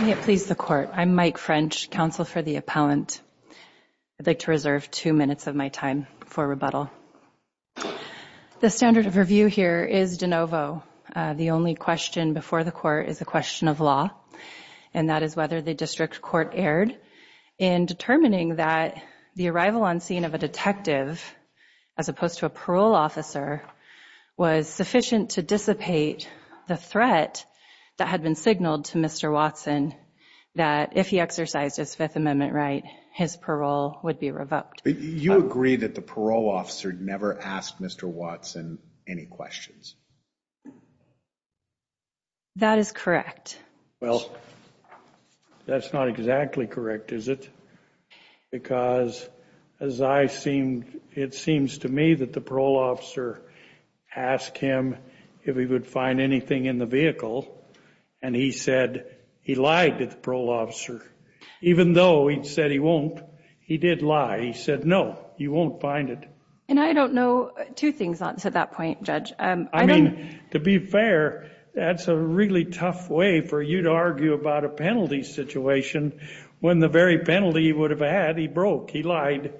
Please the court I'm Mike French counsel for the appellant. I'd like to reserve two minutes of my time for rebuttal The standard of review here is de novo the only question before the court is a question of law and that is whether the district court erred in Determining that the arrival on scene of a detective as opposed to a parole officer Was sufficient to dissipate the threat that had been signaled to mr. Watson that if he exercised his Fifth Amendment right his parole would be revoked you agree that the parole officer Never asked mr. Watson any questions That is correct well That's not exactly correct is it? Because as I seemed it seems to me that the parole officer Asked him if he would find anything in the vehicle and he said he lied to the parole officer Even though he said he won't he did lie. He said no you won't find it And I don't know two things on to that point judge. I mean to be fair That's a really tough way for you to argue about a penalty situation When the very penalty he would have had he broke he lied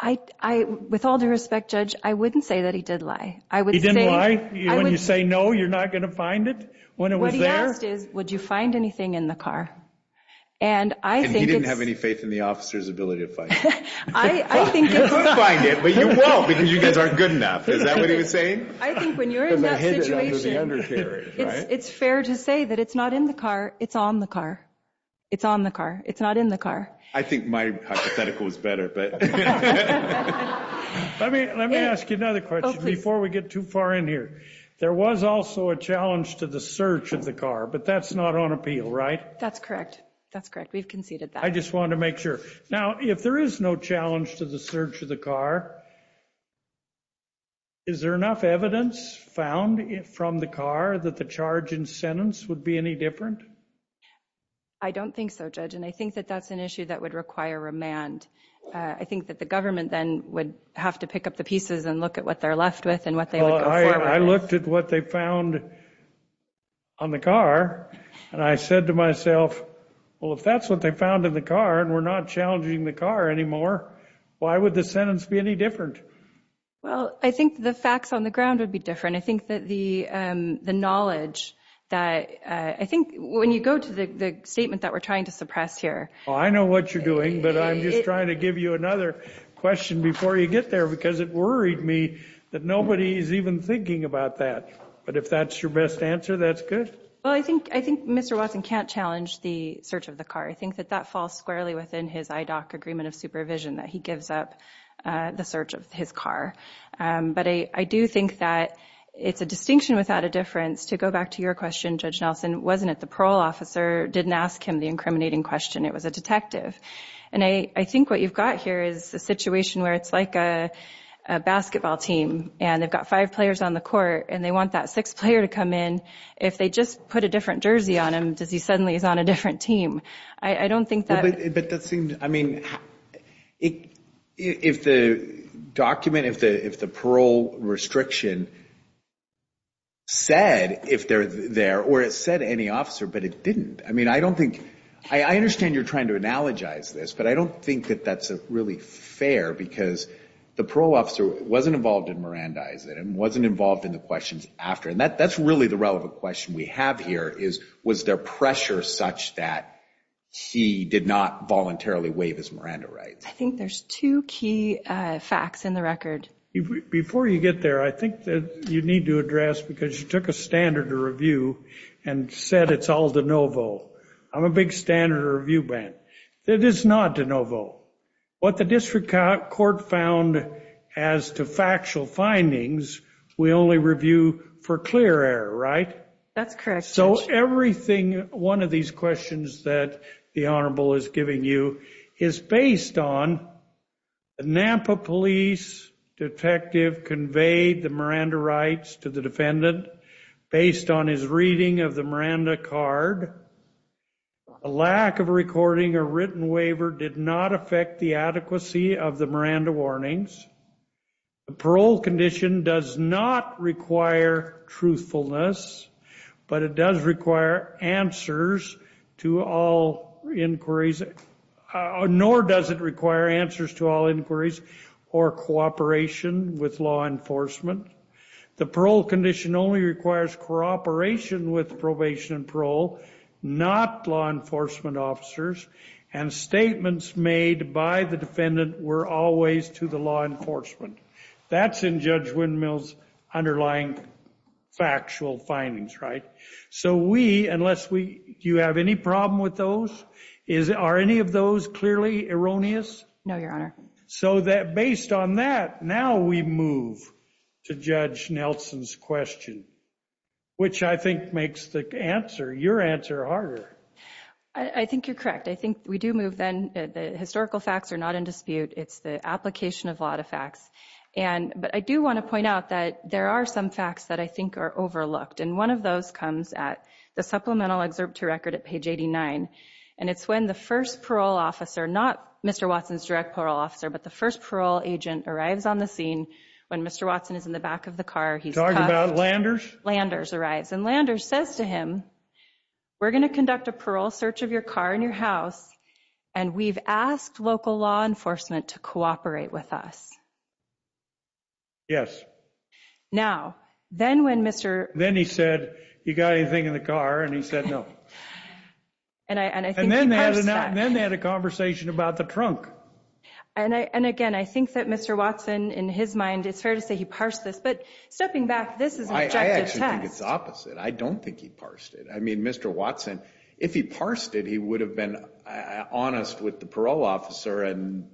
I I with all due respect judge. I wouldn't say that he did lie I would say why you say no you're not gonna find it when it was there is would you find anything in the car and I didn't have any faith in the officer's ability to find It's fair to say that it's not in the car. It's on the car. It's on the car. It's not in the car I think my hypothetical is better, but Before we get too far in here there was also a challenge to the search of the car, but that's not on appeal, right? That's correct. That's correct. We've conceded that I just wanted to make sure now if there is no challenge to the search of the car Is there enough evidence found it from the car that the charge in sentence would be any different I Don't think so judge, and I think that that's an issue that would require remand I Think that the government then would have to pick up the pieces and look at what they're left with and what they look I looked at what they found on The car and I said to myself Well, if that's what they found in the car, and we're not challenging the car anymore. Why would the sentence be any different? Well, I think the facts on the ground would be different The knowledge that I think when you go to the statement that we're trying to suppress here I know what you're doing But I'm just trying to give you another question before you get there because it worried me that nobody is even thinking about that But if that's your best answer, that's good. Well, I think I think mr. Watson can't challenge the search of the car I think that that falls squarely within his IDOC agreement of supervision that he gives up the search of his car But I I do think that It's a distinction without a difference to go back to your question judge Nelson wasn't at the parole officer Didn't ask him the incriminating question. It was a detective and I I think what you've got here is the situation where it's like a basketball team and they've got five players on the court and they want that six player to come in if They just put a different jersey on him. Does he suddenly is on a different team? I don't think that but that seemed I mean it if the Document if the if the parole restriction Said if they're there or it said any officer, but it didn't I mean, I don't think I understand you're trying to analogize this But I don't think that that's a really fair because the parole officer wasn't involved in Miranda Is it and wasn't involved in the questions after and that that's really the relevant question We have here is was there pressure such that? She did not voluntarily waive his Miranda rights, I think there's two key facts in the record Before you get there I think that you need to address because you took a standard to review and said it's all DeNovo I'm a big standard review ban that is not DeNovo what the district court found as To factual findings. We only review for clear air, right? That's correct so everything one of these questions that the Honorable is giving you is based on a Nampa police Detective conveyed the Miranda rights to the defendant based on his reading of the Miranda card a Lack of recording a written waiver did not affect the adequacy of the Miranda warnings The parole condition does not require truthfulness But it does require answers to all inquiries nor does it require answers to all inquiries or cooperation with law enforcement the parole condition only requires cooperation with probation and parole not law enforcement officers and Statements made by the defendant were always to the law enforcement. That's in judge windmills underlying Factual findings, right? So we unless we do you have any problem with those is are any of those clearly erroneous? No, your honor so that based on that now we move to judge Nelson's question Which I think makes the answer your answer harder. I Think you're correct. I think we do move then the historical facts are not in dispute it's the application of a lot of facts and but I do want to point out that there are some facts that I think are overlooked and one of those comes at the Supplemental excerpt to record at page 89 and it's when the first parole officer not. Mr Watson's direct parole officer, but the first parole agent arrives on the scene when mr. Watson is in the back of the car He's talking about Landers Landers arrives and Landers says to him we're gonna conduct a parole search of your car in your house and We've asked local law enforcement to cooperate with us Yes Now then when mr. Then he said you got anything in the car and he said no And I and then they had a conversation about the trunk And I and again, I think that mr. Watson in his mind. It's fair to say he parsed this but stepping back This is I actually think it's opposite. I don't think he parsed it. I mean, mr Watson if he parsed it, he would have been honest with the parole officer and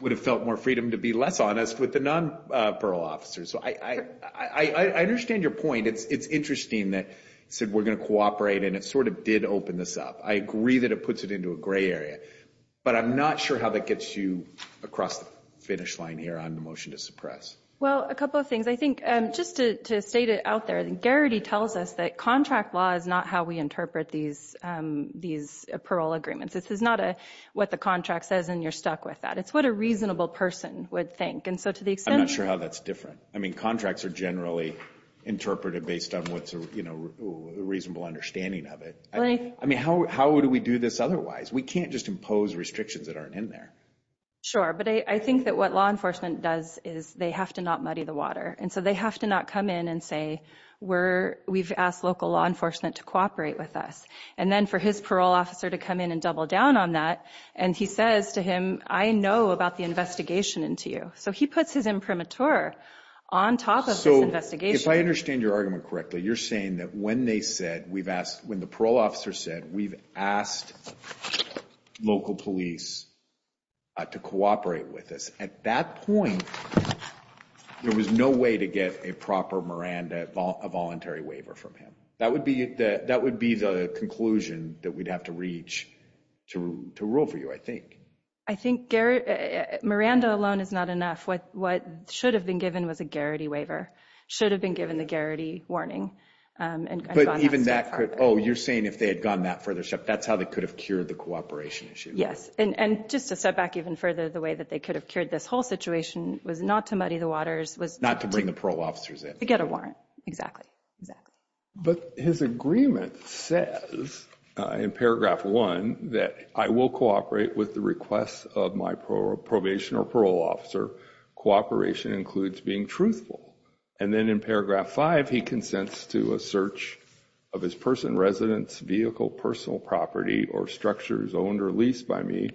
would have felt more freedom to be less honest with the non parole officer, so I Understand your point. It's it's interesting that said we're gonna cooperate and it sort of did open this up I agree that it puts it into a gray area But I'm not sure how that gets you across the finish line here on the motion to suppress Well a couple of things I think just to state it out there Garrity tells us that contract law is not how we interpret these These parole agreements. This is not a what the contract says and you're stuck with that It's what a reasonable person would think and so to the extent sure how that's different. I mean contracts are generally Interpreted based on what's a you know a reasonable understanding of it. I mean, how would we do this? Otherwise, we can't just impose restrictions that aren't in there Sure But I think that what law enforcement does is they have to not muddy the water and so they have to not come in and Where we've asked local law enforcement to cooperate with us and then for his parole officer to come in and double down on that and he? Says to him I know about the investigation into you. So he puts his imprimatur on Top of the investigation. I understand your argument correctly. You're saying that when they said we've asked when the parole officer said we've asked local police To cooperate with us at that point There was no way to get a proper Miranda a voluntary waiver from him That would be that that would be the conclusion that we'd have to reach To rule for you. I think I think Garrett Miranda alone is not enough What what should have been given was a Garrity waiver should have been given the Garrity warning And even that could oh you're saying if they had gone that further stuff. That's how they could have cured the cooperation issue Yes, and and just a step back even further the way that they could have cured this whole situation Was not to muddy the waters was not to bring the parole officers in to get a warrant exactly exactly but his agreement says In paragraph one that I will cooperate with the requests of my probation or parole officer Cooperation includes being truthful and then in paragraph five he consents to a search of his person residence Vehicle personal property or structures owned or leased by me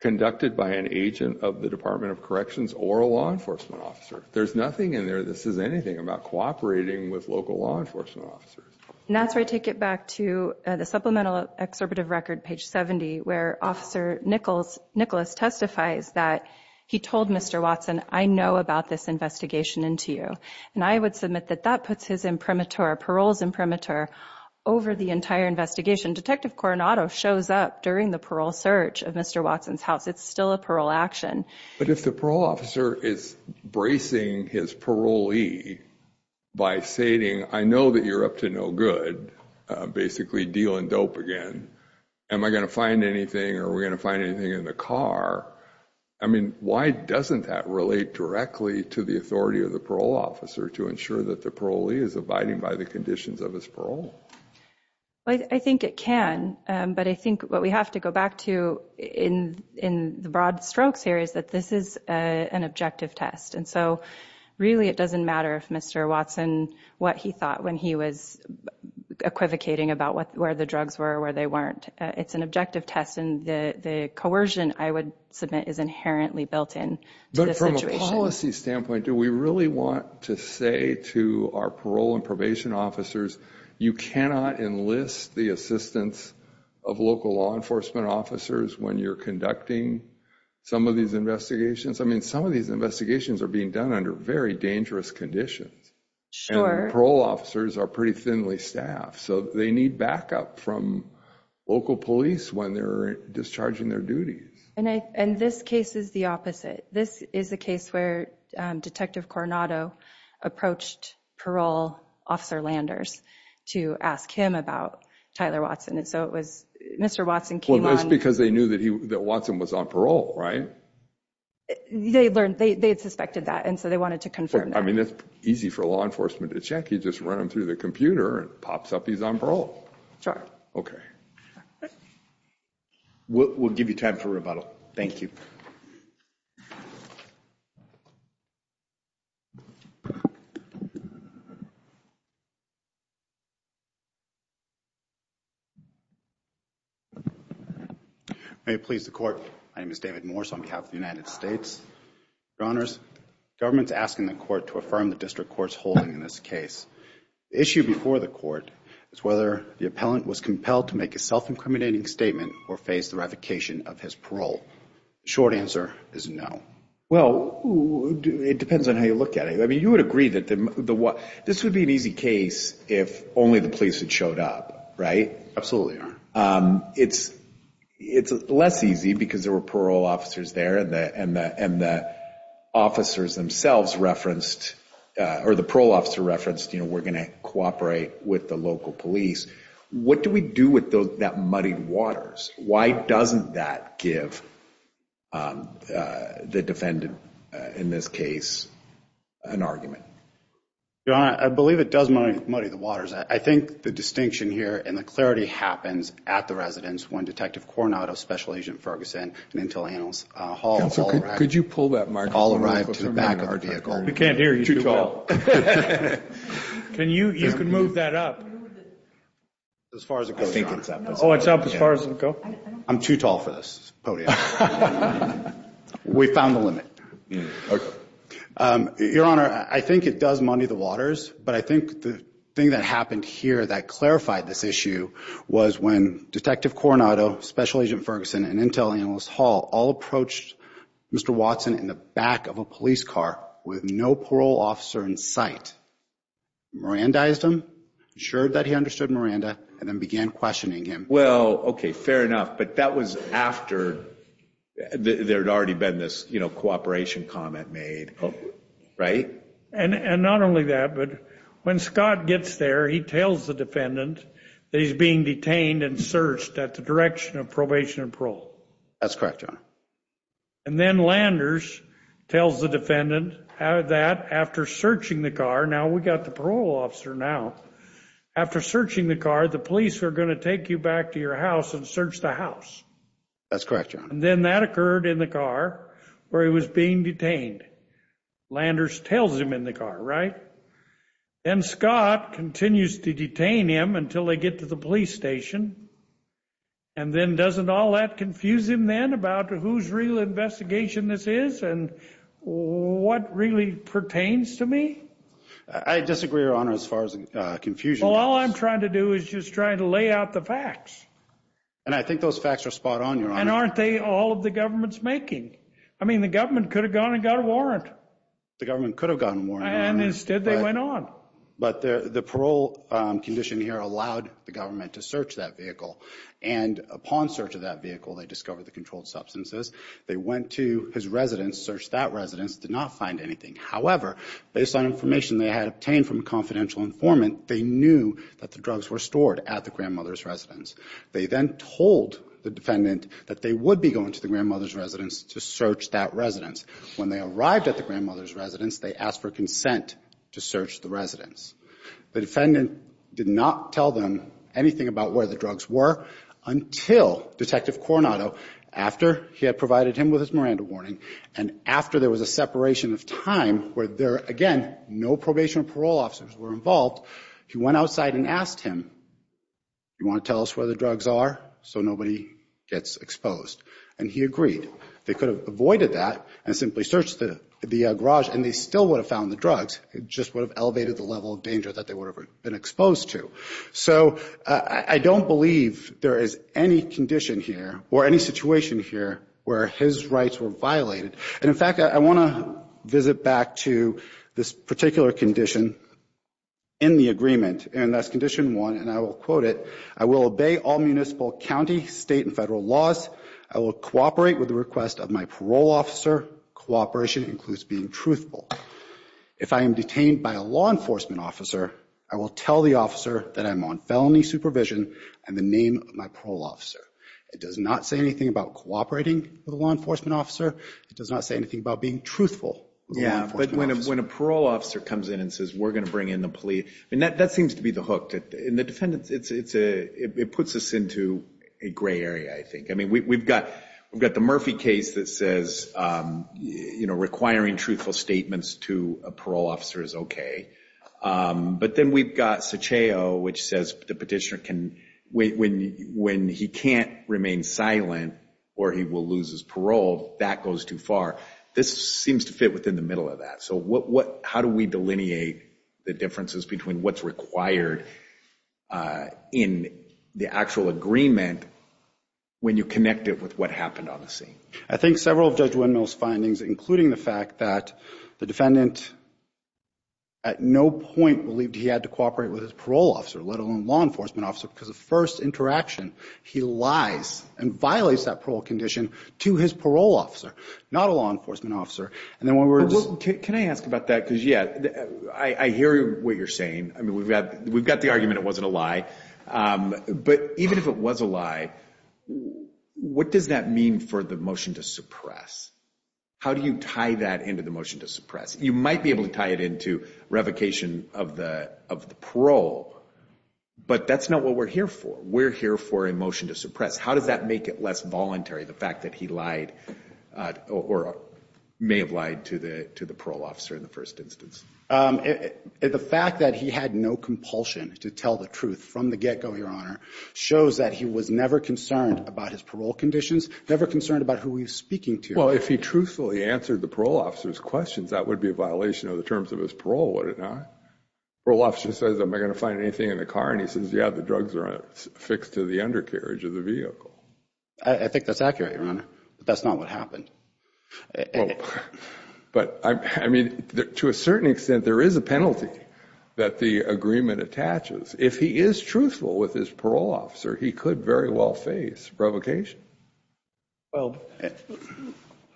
Conducted by an agent of the Department of Corrections or a law enforcement officer. There's nothing in there This is anything about cooperating with local law enforcement officers And that's where I take it back to the supplemental Excerpt of record page 70 where officer Nichols Nicholas testifies that he told mr. Watson I know about this investigation into you and I would submit that that puts his imprimatur paroles imprimatur Over the entire investigation detective Coronado shows up during the parole search of mr. Watson's house It's still a parole action. But if the parole officer is Bracing his parolee By stating I know that you're up to no good Basically deal and dope again. Am I gonna find anything or we're gonna find anything in the car? I mean Why doesn't that relate directly to the authority of the parole officer to ensure that the parolee is abiding by the conditions of his? Well, I think it can but I think what we have to go back to in in the broad strokes here Is that this is an objective test? And so really it doesn't matter if mr. Watson what he thought when he was Equivocating about what where the drugs were where they weren't it's an objective test and the the coercion I would submit is inherently built in but from a policy standpoint Do we really want to say to our parole and probation officers? You cannot enlist the assistance of local law enforcement officers when you're conducting Some of these investigations. I mean some of these investigations are being done under very dangerous conditions Sure parole officers are pretty thinly staffed. So they need backup from Local police when they're discharging their duties and I and this case is the opposite. This is a case where detective Coronado Approached parole officer Landers to ask him about Tyler Watson. And so it was mr Watson came on because they knew that he that Watson was on parole, right? They learned they had suspected that and so they wanted to confirm I mean, it's easy for law enforcement to check you just run them through the computer and pops up. He's on parole. Sure. Okay We'll give you time for rebuttal, thank you You May please the court. My name is David Morse on behalf of the United States runners Government's asking the court to affirm the district courts holding in this case Issue before the court is whether the appellant was compelled to make a self-incriminating statement or face the revocation of his parole Short answer is no. Well It depends on how you look at it I mean you would agree that the the what this would be an easy case if only the police had showed up, right? absolutely, um, it's it's less easy because there were parole officers there and the and the and the officers themselves referenced Or the parole officer referenced, you know, we're gonna cooperate with the local police What do we do with those that muddied waters? Why doesn't that give? The defendant in this case an argument Yeah, I believe it does money muddy the waters I think the distinction here and the clarity happens at the residence when detective Coronado special agent Ferguson and until annals Could you pull that mark all arrived to the back of our vehicle? We can't hear you Can you you can move that up As far as I think it's up. Oh, it's up as far as it go. I'm too tall for this We found the limit Your honor I think it does money the waters But I think the thing that happened here that clarified this issue Was when detective Coronado special agent Ferguson and Intel analyst Hall all approached? Mr. Watson in the back of a police car with no parole officer in sight Mirandized him sure that he understood Miranda and then began questioning him. Well, okay fair enough, but that was after There had already been this, you know cooperation comment made Right and and not only that but when Scott gets there He tells the defendant that he's being detained and searched at the direction of probation and parole. That's correct, John and then Landers Tells the defendant how that after searching the car now, we got the parole officer now After searching the car the police are going to take you back to your house and search the house That's correct, and then that occurred in the car where he was being detained Landers tells him in the car, right? and Scott continues to detain him until they get to the police station and then doesn't all that confuse him then about who's real investigation this is and What really pertains to me? I disagree your honor as far as the confusion I'm trying to do is just trying to lay out the facts And I think those facts are spot-on and aren't they all of the government's making? I mean the government could have gone and got a warrant the government could have gotten more and instead they went on But the parole condition here allowed the government to search that vehicle and upon search of that vehicle They discovered the controlled substances. They went to his residence searched that residence did not find anything However, based on information they had obtained from confidential informant. They knew that the drugs were stored at the grandmother's residence They then told the defendant that they would be going to the grandmother's residence to search that residence When they arrived at the grandmother's residence, they asked for consent to search the residence The defendant did not tell them anything about where the drugs were Until detective Coronado after he had provided him with his Miranda warning and after there was a separation of time Where there again, no probation or parole officers were involved. He went outside and asked him You want to tell us where the drugs are? So nobody gets exposed and he agreed they could have avoided that and simply searched the the garage And they still would have found the drugs It just would have elevated the level of danger that they would have been exposed to so I don't believe there is any Condition here or any situation here where his rights were violated And in fact, I want to visit back to this particular condition in The agreement and that's condition one and I will quote it. I will obey all municipal county state and federal laws I will cooperate with the request of my parole officer Cooperation includes being truthful if I am detained by a law enforcement officer I will tell the officer that I'm on felony supervision and the name of my parole officer It does not say anything about cooperating with a law enforcement officer, it does not say anything about being truthful Yeah but when a parole officer comes in and says we're gonna bring in the police and that that seems to be the hook that in The defendants it's it's a it puts us into a gray area. I think I mean, we've got we've got the Murphy case that says You know requiring truthful statements to a parole officer is okay But then we've got such a oh which says the petitioner can wait when when he can't remain silent Or he will lose his parole that goes too far. This seems to fit within the middle of that So what what how do we delineate the differences between what's required? in the actual agreement When you connect it with what happened on the scene, I think several judge windmills findings including the fact that the defendant At no point believed he had to cooperate with his parole officer let alone law enforcement officer because the first interaction He lies and violates that parole condition to his parole officer Not a law enforcement officer and then when we're just can I ask about that because yeah, I hear what you're saying I mean, we've got we've got the argument. It wasn't a lie But even if it was a lie What does that mean for the motion to suppress? How do you tie that into the motion to suppress you might be able to tie it into revocation of the of the parole But that's not what we're here for. We're here for a motion to suppress. How does that make it less voluntary the fact that he lied? or May have lied to the to the parole officer in the first instance The fact that he had no compulsion to tell the truth from the get-go your honor Shows that he was never concerned about his parole conditions never concerned about who he was speaking to Well, if he truthfully answered the parole officer's questions, that would be a violation of the terms of his parole. Would it not? Well officer says am I gonna find anything in the car? And he says yeah, the drugs are fixed to the undercarriage of the vehicle. I think that's accurate your honor. That's not what happened But I mean to a certain extent there is a penalty that The agreement attaches if he is truthful with his parole officer, he could very well face provocation well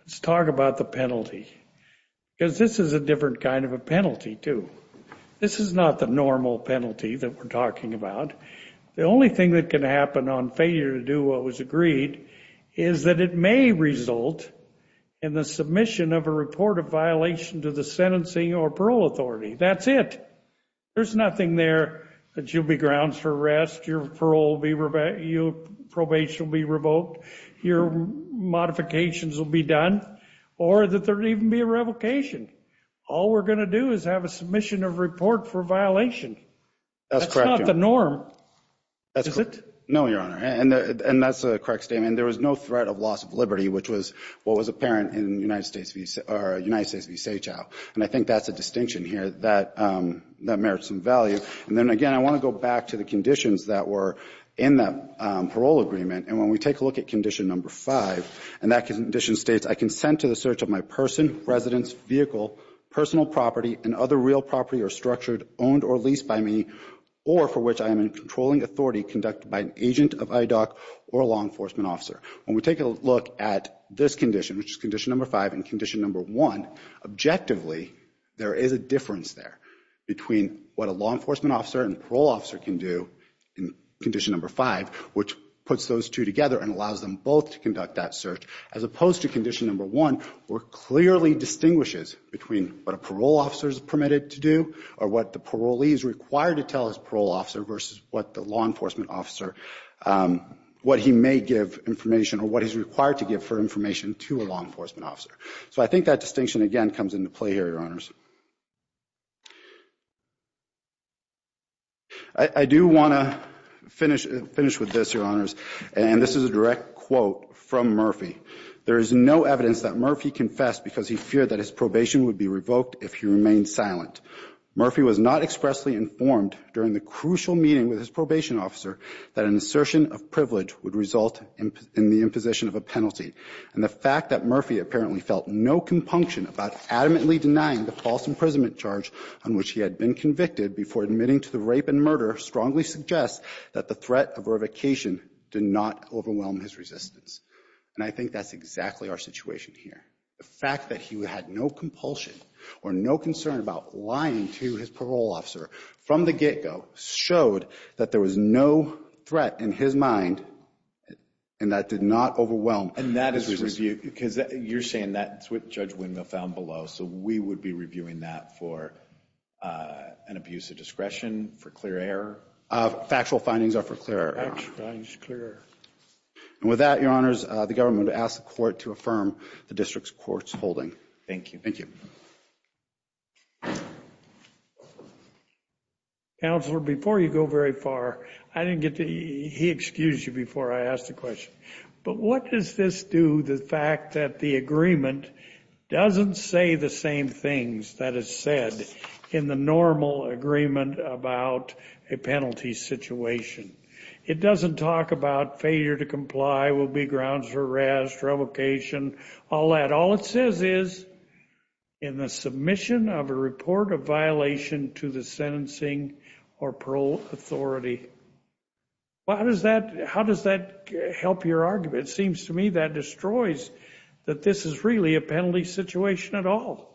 Let's talk about the penalty Because this is a different kind of a penalty too. This is not the normal penalty that we're talking about the only thing that can happen on failure to do what was agreed is that it may result in The submission of a report of violation to the sentencing or parole authority. That's it There's nothing there that you'll be grounds for arrest. Your parole will be revoked, your probation will be revoked, your Modifications will be done or that there even be a revocation. All we're gonna do is have a submission of report for violation That's not the norm That's correct. No your honor, and that's a correct statement There was no threat of loss of liberty Which was what was apparent in United States v. Seychelles And I think that's a distinction here that That merits some value and then again I want to go back to the conditions that were in the Parole agreement and when we take a look at condition number five and that condition states I consent to the search of my person, residence, vehicle, Personal property and other real property or structured owned or leased by me or for which I am in controlling authority Conducted by an agent of IDOC or a law enforcement officer. When we take a look at this condition Which is condition number five and condition number one Objectively there is a difference there between what a law enforcement officer and parole officer can do in Condition number five which puts those two together and allows them both to conduct that search as opposed to condition number one We're clearly distinguishes between what a parole officer is permitted to do or what the parolee is required to tell his parole officer versus what the law enforcement officer What he may give information or what he's required to give for information to a law enforcement officer So I think that distinction again comes into play here your honors I do want to finish finish with this your honors, and this is a direct quote from Murphy There is no evidence that Murphy confessed because he feared that his probation would be revoked if he remained silent Murphy was not expressly informed during the crucial meeting with his probation officer that an assertion of privilege would result in The imposition of a penalty and the fact that Murphy apparently felt no compunction about adamantly denying the false Imprisonment charge on which he had been convicted before admitting to the rape and murder strongly suggests that the threat of revocation Did not overwhelm his resistance And I think that's exactly our situation here the fact that he had no compulsion Or no concern about lying to his parole officer from the get-go showed that there was no threat in his mind And that did not overwhelm and that is reviewed because you're saying that's what judge windmill found below so we would be reviewing that for An abuse of discretion for clear error Factual findings are for clear And with that your honors the government asked the court to affirm the district's courts holding. Thank you. Thank you You Counselor before you go very far. I didn't get to he excused you before I asked the question But what does this do the fact that the agreement? Doesn't say the same things that is said in the normal agreement about a penalty situation It doesn't talk about failure to comply will be grounds for arrest Revocation all that all it says is in The submission of a report of violation to the sentencing or parole authority Why does that how does that help your argument seems to me that destroys that? This is really a penalty situation at all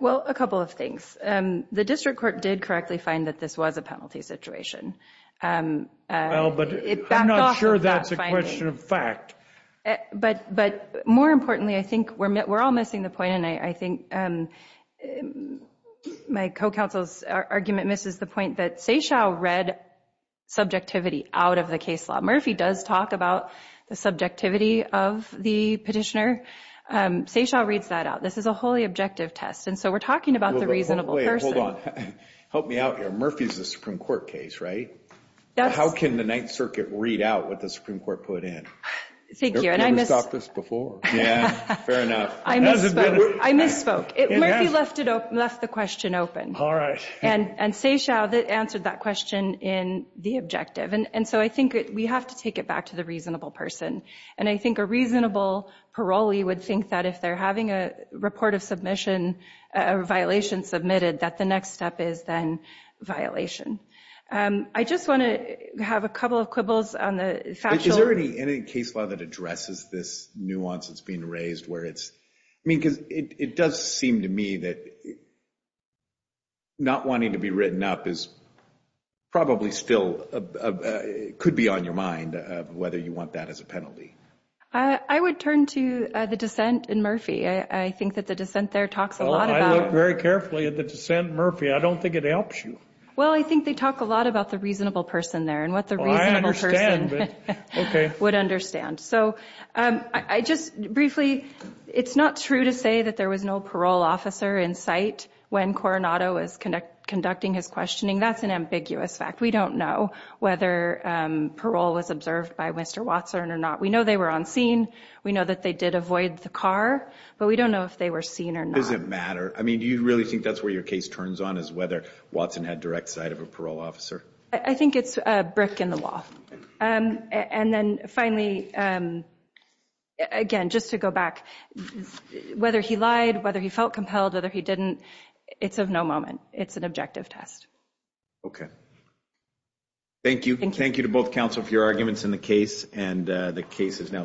Well a couple of things and the district court did correctly find that this was a penalty situation Well, but I'm not sure that's a question of fact but but more importantly, I think we're met we're all missing the point and I think My co-counsel's argument misses the point that Seychelles read Subjectivity out of the case law Murphy does talk about the subjectivity of the petitioner Seychelles reads that out. This is a wholly objective test. And so we're talking about the reason Hold on help me out here Murphy's the Supreme Court case, right? How can the Ninth Circuit read out what the Supreme Court put in? Thank you, and I miss this before. Yeah I misspoke it left it up left the question open All right And and say shall that answered that question in the objective and and so I think we have to take it back to the reasonable person and I think a reasonable parolee would think that if they're having a report of submission a Violation submitted that the next step is then Violation. I just want to have a couple of quibbles on the fact. Is there any any case law that addresses this nuance? It's being raised where it's I mean because it does seem to me that Not wanting to be written up is probably still Could be on your mind of whether you want that as a penalty I would turn to the dissent in Murphy. I think that the dissent there talks a lot about very carefully at the dissent Murphy I don't think it helps you. Well, I think they talk a lot about the reasonable person there and what the Okay would understand so I just briefly It's not true to say that there was no parole officer in sight when Coronado is conduct conducting his questioning That's an ambiguous fact. We don't know whether Parole was observed by mr. Watson or not. We know they were on scene We know that they did avoid the car, but we don't know if they were seen or not Does it matter? I mean, do you really think that's where your case turns on is whether Watson had direct sight of a parole officer? I think it's a brick in the wall and then finally Again just to go back Whether he lied whether he felt compelled whether he didn't it's of no moment. It's an objective test Okay Thank you, thank you to both counsel for your arguments in the case and the case is now submitted